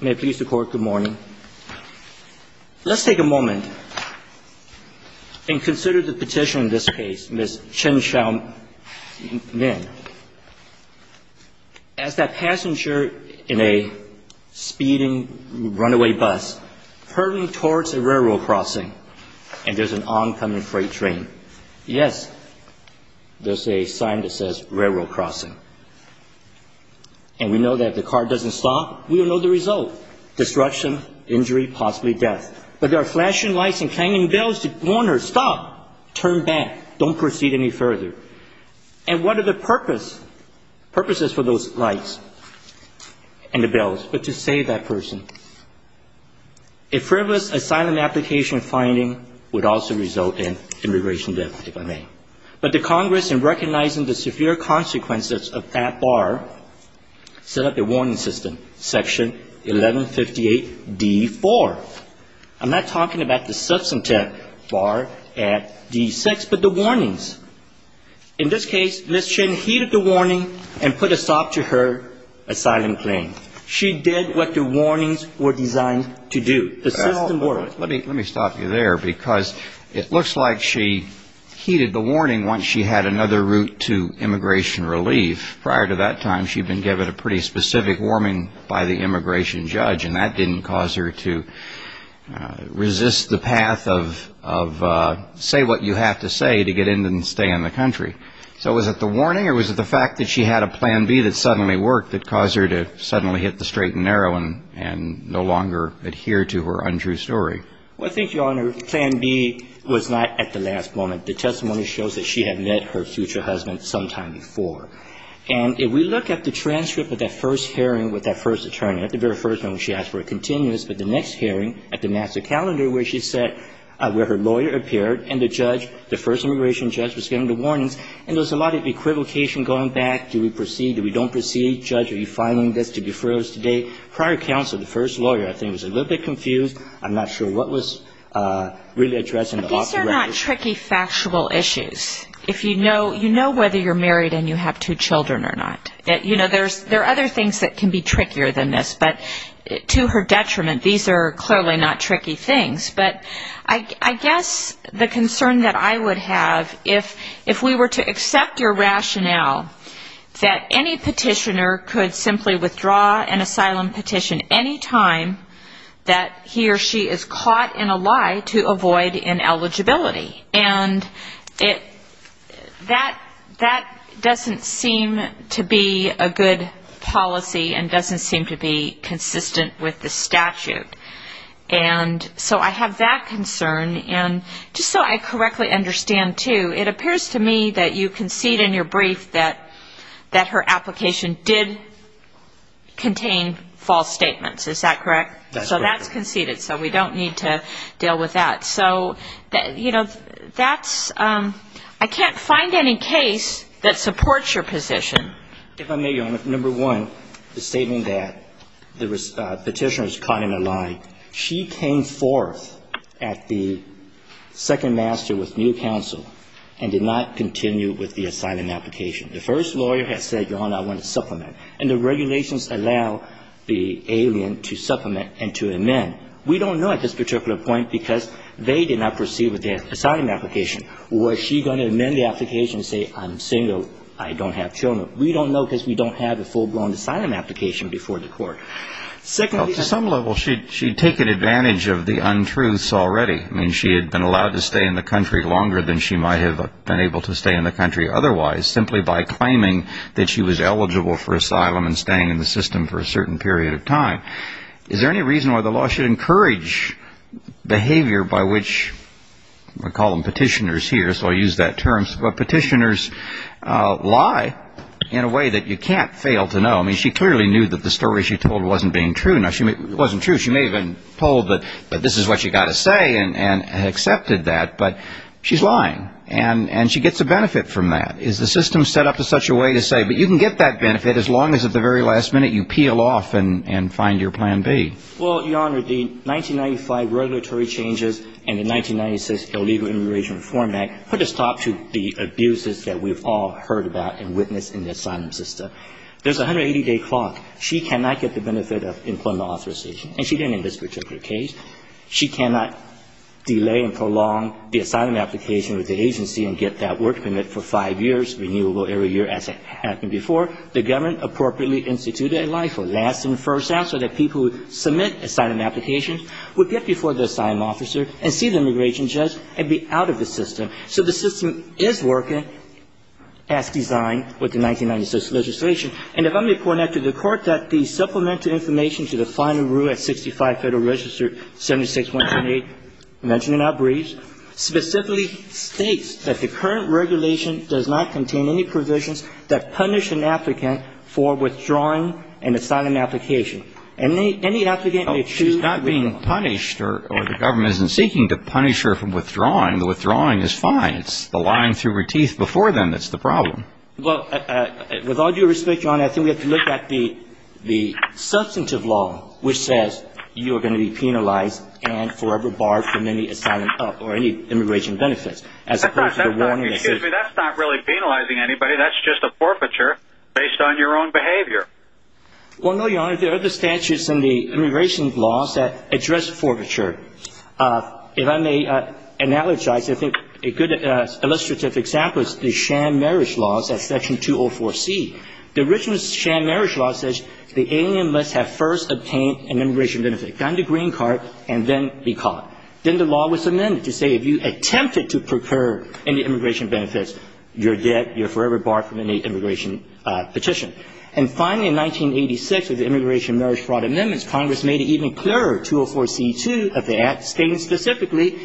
May it please the Court, good morning. Let's take a moment and consider the petition in this case, Ms. Chen Xiaomin. As that passenger in a speeding runaway bus hurrying towards a railroad crossing, and there's an oncoming freight train, yes, there's a sign that says we don't know the result. Destruction, injury, possibly death. But there are flashing lights and clanging bells to warn her, stop, turn back, don't proceed any further. And what are the purposes for those lights and the bells? But to save that person, a frivolous asylum application finding would also result in immigration death, if I may. But the Congress, in recognizing the severe consequences of that bar, set up a warning system, section 1158D4. I'm not talking about the substantive bar at D6, but the warnings. In this case, Ms. Chen heeded the warning and put a stop to her asylum claim. She did what the warnings were designed to do. The system worked. Well, let me stop you there, because it looks like she heeded the warning once she had another route to immigration relief. Prior to that time, she'd been given a pretty specific warming by the immigration judge, and that didn't cause her to resist the path of say what you have to say to get in and stay in the country. So was it the warning or was it the fact that she had a plan B that suddenly worked that caused her to suddenly hit the bar? Well, I think, Your Honor, plan B was not at the last moment. The testimony shows that she had met her future husband sometime before. And if we look at the transcript of that first hearing with that first attorney, at the very first moment she asked for a continuous, but the next hearing at the master calendar where she said where her lawyer appeared and the judge, the first immigration judge was giving the warnings, and there was a lot of equivocation going back. Do we proceed? Do we don't proceed? Judge, are you filing this to be froze today? Prior counsel, the first lawyer, I think was a little bit confused I'm not sure what was really addressing the off the record. But these are not tricky factual issues. If you know, you know whether you're married and you have two children or not. You know, there are other things that can be trickier than this, but to her detriment, these are clearly not tricky things. But I guess the concern that I would have if we were to accept your rationale that any petitioner could simply withdraw an asylum petition any time that he or she is caught in a lie to avoid ineligibility. And that doesn't seem to be a good policy and doesn't seem to be consistent with the statute. And so I have that concern. And just so I correctly understand, too, it appears to me that you concede in your brief that her application did contain false statements. Is that correct? That's correct. So that's conceded. So we don't need to deal with that. So that's, I can't find any case that supports your position. If I may, Your Honor, number one, the statement that the petitioner is caught in a lie. She came forth at the second master with new counsel and did not continue with the asylum application. The first lawyer has said, Your Honor, I want to supplement. And the regulations allow the alien to supplement and to amend. We don't know at this particular point because they did not proceed with the asylum application. Was she going to amend the application and say, I'm single, I don't have children? We don't know because we don't have a full-blown asylum application before the court. Well, to some level, she had taken advantage of the untruths already. I mean, she had been in the country longer than she might have been able to stay in the country otherwise, simply by claiming that she was eligible for asylum and staying in the system for a certain period of time. Is there any reason why the law should encourage behavior by which, we call them petitioners here, so I use that term, but petitioners lie in a way that you can't fail to know. I mean, she clearly knew that the story she told wasn't being true. Now, it wasn't true. She may have been told that this is what you've got to say and accepted that, but she's lying. And she gets a benefit from that. Is the system set up in such a way to say, but you can get that benefit as long as at the very last minute, you peel off and find your plan B? Well, Your Honor, the 1995 regulatory changes and the 1996 illegal immigration reform act put a stop to the abuses that we've all heard about and witnessed in the asylum system. There's a 180-day clock. She cannot get the benefit of employment authorization, and she cannot delay and prolong the asylum application with the agency and get that work permit for five years, renewable every year, as it happened before. The government appropriately instituted a life or last and first answer that people who submit asylum applications would get before the asylum officer and see the immigration judge and be out of the system. So the system is working as designed with the 1996 legislation. And if I may point out to the court that the supplemental information to the final rule at 65 Federal Register 76178 mentioned in our briefs specifically states that the current regulation does not contain any provisions that punish an applicant for withdrawing an asylum application. And any applicant may choose to withdraw. Oh, she's not being punished or the government isn't seeking to punish her for withdrawing. The withdrawing is fine. It's the lying through her teeth before then that's the problem. Well, with all due respect, Your Honor, I think we have to look at the substantive law which says you are going to be penalized and forever barred from any asylum or any immigration benefits as opposed to the warning that says... Excuse me. That's not really penalizing anybody. That's just a forfeiture based on your own behavior. Well, no, Your Honor. There are other statutes in the immigration laws that address forfeiture. If I may analogize, I think a good illustrative example is the sham marriage laws at Section 204C. The original sham marriage law says the alien must have first obtained an immigration benefit, gotten the green card, and then be caught. Then the law was amended to say if you attempted to procure any immigration benefits, you're dead, you're forever barred from any immigration petition. And finally, in 1986, with the immigration marriage fraud amendments, Congress made it even clearer, 204C.2 of the Act stating specifically,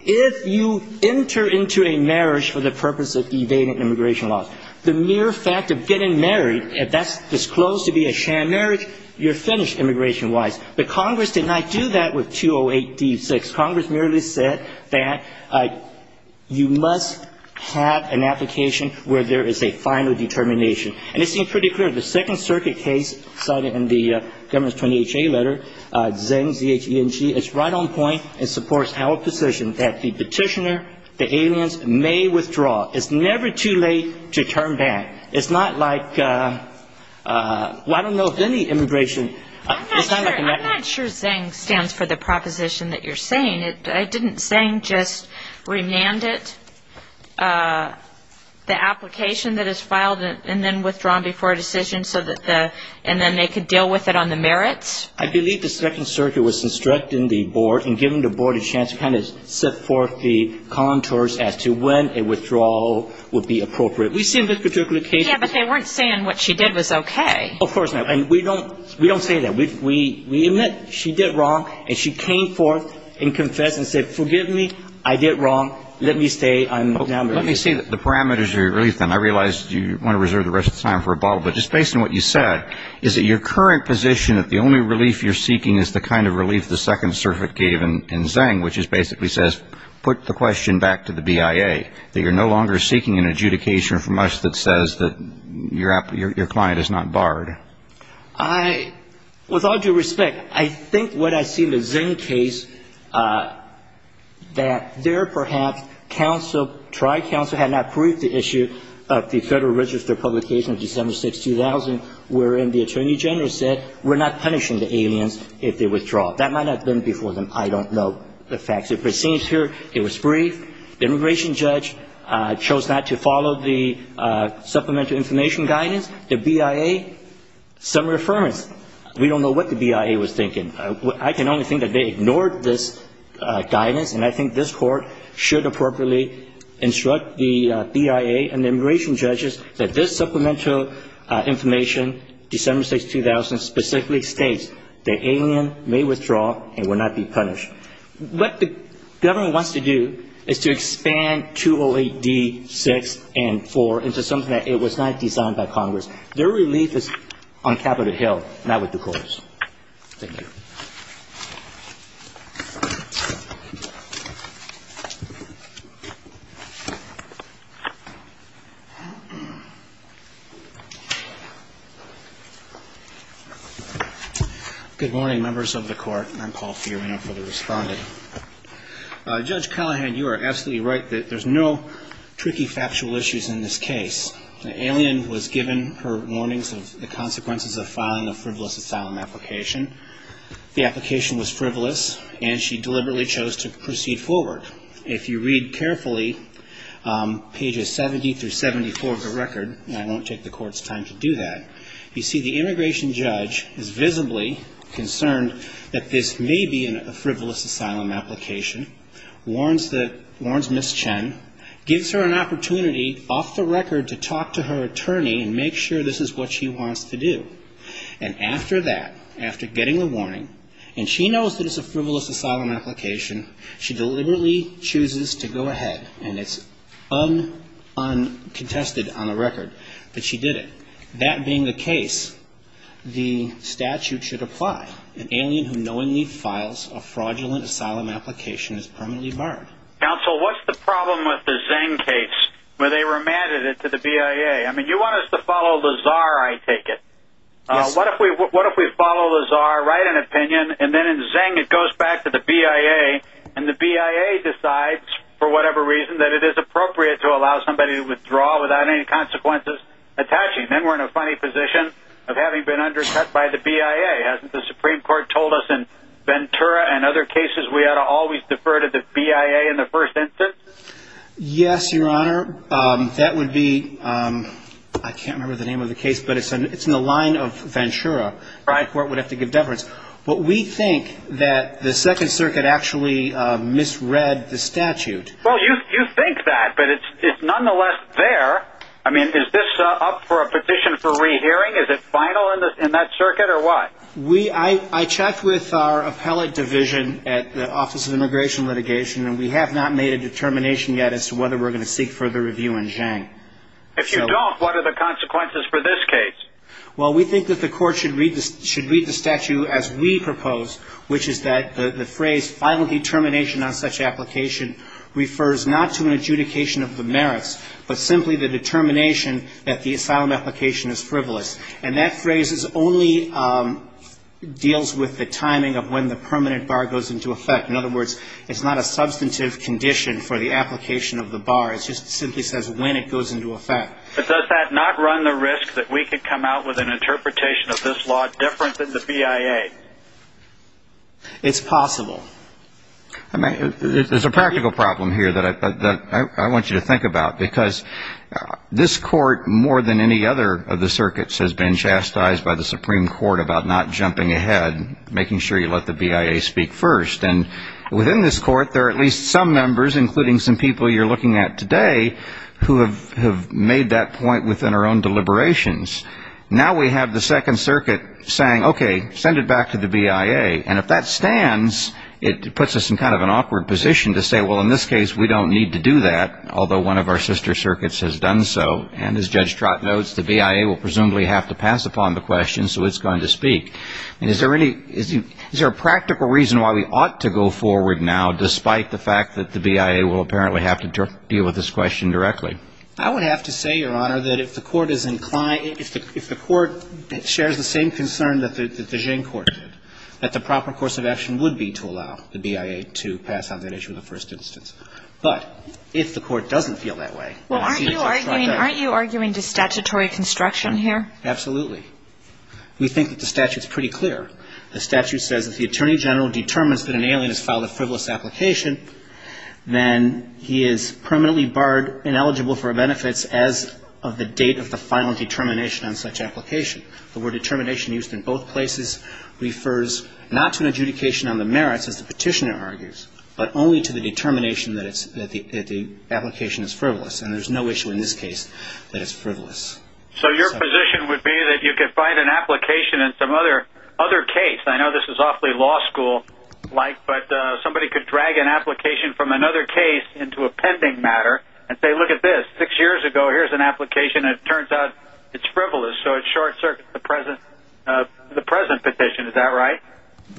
if you enter into a marriage for the purpose of evading immigration laws, the mere fact of getting married, if that's disclosed to be a sham marriage, you're finished immigration-wise. But Congress did not do that with 208D.6. Congress merely said that you must have an application where there is a final determination. And it seemed pretty clear. The Second Circuit case cited in the Governor's 20HA letter, Zeng, Z-H-E-N-G, it's right on point. It supports Howard's position that the petitioner, the aliens, may withdraw. It's never too late to turn back. It's not like, well, I don't know if any immigration- I'm not sure Zeng stands for the proposition that you're saying. It didn't Zeng just remanded the application that is filed and then withdrawn before a decision so that the, and then they could deal with it on the merits? I believe the Second Circuit was instructing the board and giving the board a chance to kind of set forth the contours as to when a withdrawal would be appropriate. We've seen this particular case- Yeah, but they weren't saying what she did was okay. Of course not. And we don't say that. We admit she did wrong and she came forth and said, well, let me stay. I'm now- Let me see the parameters of your relief then. I realize you want to reserve the rest of the time for a bottle, but just based on what you said, is it your current position that the only relief you're seeking is the kind of relief the Second Circuit gave in Zeng, which is basically says, put the question back to the BIA, that you're no longer seeking an adjudication from us that says that your client is not barred? I, with all due respect, I think what I see in the Zeng case, that there perhaps counsel, tri-counsel, had not proved the issue of the Federal Register publication of December 6, 2000, wherein the Attorney General said, we're not punishing the aliens if they withdraw. That might not have been before them. I don't know the facts. If it seems here, it was brief. The immigration judge chose not to follow the Supplemental Information Guidance. The BIA, summary affirmance. We don't know what the BIA was thinking. I can only think that they ignored this guidance, and I think this Court should appropriately instruct the BIA and the immigration judges that this Supplemental Information, December 6, 2000, specifically states the alien may withdraw and will not be punished. What the government wants to do is to expand 208D6 and 4 into something that was not designed by Congress. Their relief is on Capitol Hill, not with the courts. Thank you. Good morning, members of the Court. I'm Paul Fiorina for the Respondent. Judge Callahan, you are absolutely right that there's no tricky factual issues in this case. The alien was convicted, the application was frivolous, and she deliberately chose to proceed forward. If you read carefully, pages 70 through 74 of the record, and I won't take the Court's time to do that, you see the immigration judge is visibly concerned that this may be a frivolous asylum application, warns Ms. Chen, gives her an opportunity off the record to talk to her attorney and make sure this is what she wants to do. And after that, after getting the warning, and she knows that it's a frivolous asylum application, she deliberately chooses to go ahead, and it's uncontested on the record, but she did it. That being the case, the statute should apply. An alien who knowingly files a fraudulent asylum application is permanently barred. Counsel, what's the problem with the Zeng case, where they remanded it to the BIA? I take it. What if we follow the czar, write an opinion, and then in Zeng it goes back to the BIA, and the BIA decides, for whatever reason, that it is appropriate to allow somebody to withdraw without any consequences attaching. Then we're in a funny position of having been undercut by the BIA. Hasn't the Supreme Court told us in Ventura and other cases we ought to always defer to the BIA in the first instance? Yes, Your Honor. That would be, I can't remember the name of the case, but it's in the line of Ventura. The Supreme Court would have to give deference. But we think that the Second Circuit actually misread the statute. Well, you think that, but it's nonetheless there. I mean, is this up for a petition for rehearing? Is it final in that circuit, or what? I checked with our appellate division at the Office of Immigration Litigation, and we have not made a determination yet as to whether we're going to seek further review in Zeng. If you don't, what are the consequences for this case? Well, we think that the Court should read the statute as we propose, which is that the phrase, final determination on such application, refers not to an adjudication of the merits, but simply the determination that the asylum application is frivolous. And that phrase only deals with the timing of when the permanent bar goes into effect. In other words, it's not a substantive condition for the application of the bar. It just simply says when it goes into effect. But does that not run the risk that we could come out with an interpretation of this law different than the BIA? It's possible. There's a practical problem here that I want you to think about, because this Court, more than any other of the circuits, has been chastised by the Supreme Court about not jumping ahead, and making sure you let the BIA speak first. And within this Court, there are at least some members, including some people you're looking at today, who have made that point within our own deliberations. Now we have the Second Circuit saying, okay, send it back to the BIA. And if that stands, it puts us in kind of an awkward position to say, well, in this case, we don't need to do that, although one of our sister circuits has done so. And as Judge Trott notes, the BIA will presumably have to pass upon the question, so it's going to speak. And is there any – is there a practical reason why we ought to go forward now, despite the fact that the BIA will apparently have to deal with this question directly? I would have to say, Your Honor, that if the Court is inclined – if the Court shares the same concern that the Jean Court did, that the proper course of action would be to allow the BIA to pass on that issue in the first instance. But if the Court doesn't feel that way, then I see that Judge Trott doesn't. Well, aren't you arguing – aren't you arguing to statutory construction here? Absolutely. We think that the statute's pretty clear. The statute says if the Attorney General determines that an alien has filed a frivolous application, then he is permanently barred, ineligible for benefits as of the date of the final determination on such application. The word determination used in both places refers not to an adjudication on the merits, as the Petitioner argues, but only to the determination that it's – that the application is frivolous. And there's no issue in this case that it's frivolous. So your position would be that you could find an application in some other case – I know this is awfully law school-like – but somebody could drag an application from another case into a pending matter and say, look at this. Six years ago, here's an application. It turns out it's frivolous. So it short-circuits the present petition. Is that right?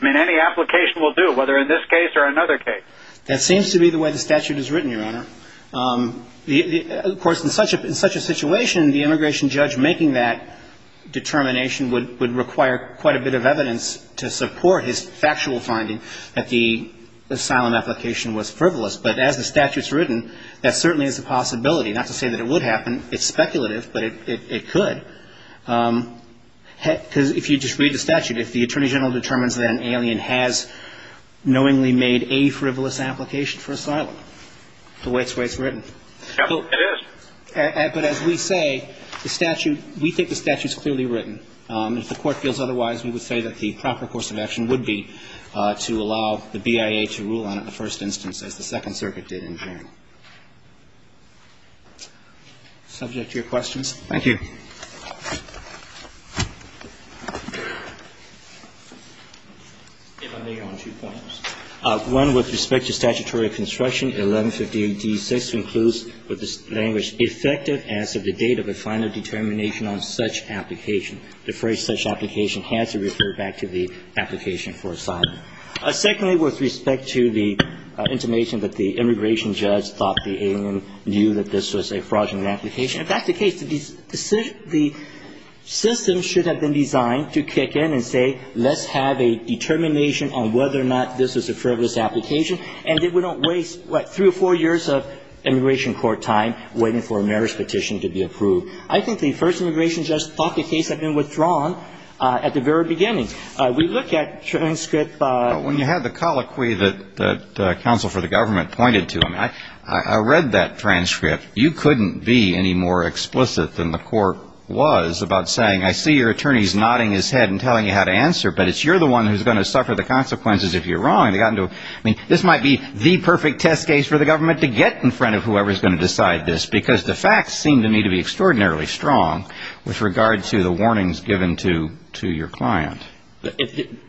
I mean, any application will do, whether in this case or another case. That seems to be the way the statute is written, Your Honor. Of course, in such a situation, the immigration judge making that determination would – would require quite a bit of evidence to support his factual finding that the asylum application was frivolous. But as the statute's written, that certainly is a possibility. Not to say that it would happen. It's speculative, but it – it could. Because if you just read the statute, if the Attorney General determines that an alien has knowingly made a frivolous application for asylum, the way it's – the way it's written. It is. But as we say, the statute – we think the statute's clearly written. If the Court feels otherwise, we would say that the proper course of action would be to allow the BIA to rule on it in the first instance, as the Second Circuit did in June. Subject to your questions? Thank you. If I may, Your Honor, two points. One, with respect to statutory construction, 1158D6 includes with this language, effective as of the date of the final determination on such application. The phrase such application has to refer back to the application for asylum. Secondly, with respect to the intimation that the immigration judge thought the alien knew that this was a fraudulent application. If that's the case, the – the system should have been designed to kick in and say, let's have a determination on whether or not this was a frivolous application, and that we don't waste, what, three or four years of immigration court time waiting for a merits petition to be approved. I think the first immigration judge thought the case had been withdrawn at the very beginning. We look at transcript – When you had the colloquy that counsel for the government pointed to, I mean, I read that transcript. You couldn't be any more explicit than the Court was about saying, I see your attorney's nodding his head and telling you how to answer, but it's you're the one who's going to suffer the consequences if you're wrong. I mean, this might be the perfect test case for the government to get in front of whoever's going to decide this, because the facts seem to me to be extraordinarily strong with regard to the warnings given to your client.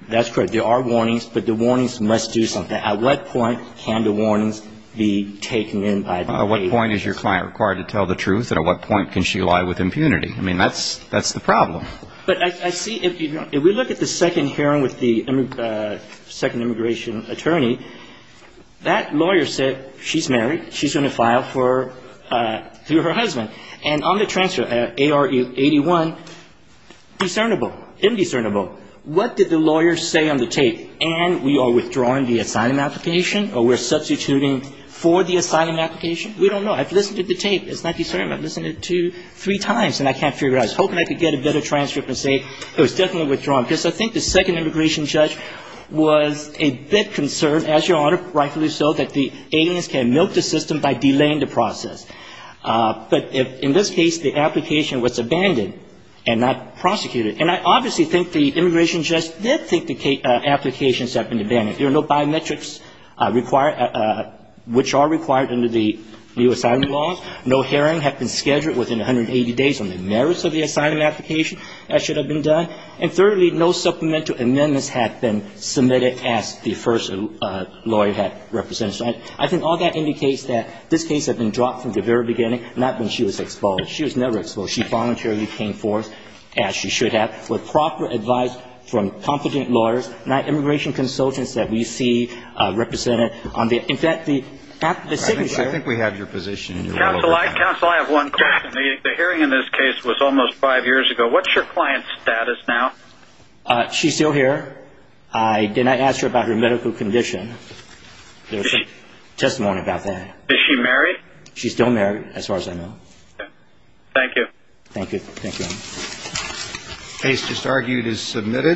That's correct. There are warnings, but the warnings must do something. At what point can the warnings be taken in by the agents? At what point is your client required to tell the truth, and at what point can she lie with impunity? I mean, that's the problem. But I see if you – if we look at the second hearing with the second immigration attorney, that lawyer said she's married, she's going to file for – through her husband. And on the transcript, AR-81, discernible, indiscernible. What did the lawyer say on the tape? And we are withdrawing the asylum application, or we're substituting for the asylum application? We don't know. I've listened to the tape. It's not discernible. I've listened to it two, three times, and I can't figure it out. I was hoping I could get a better transcript and say it was definitely withdrawn, because I think the second immigration judge was a bit concerned, as your Honor, rightfully so, that the aliens can milk the system by delaying the process. But in this case, the application was abandoned and not prosecuted. And I obviously think the immigration judge did think the applications have been abandoned. There are no biometrics required – which are required under the new asylum laws. No hearings have been scheduled within 180 days on the merits of the asylum application. That should have been done. And thirdly, no supplemental amendments have been submitted, as the first lawyer had represented. So I think all that indicates that this case had been dropped from the very beginning, not when she was exposed. She was never exposed. She voluntarily came forth, as she should have, with proper advice from competent lawyers, not immigration consultants that we see represented on the – in fact, the signature – Counsel, I have one question. The hearing in this case was almost five years ago. What's your client's status now? She's still here. I did not ask her about her medical condition. There's testimony about that. Is she married? She's still married, as far as I know. Thank you. Thank you, Your Honor.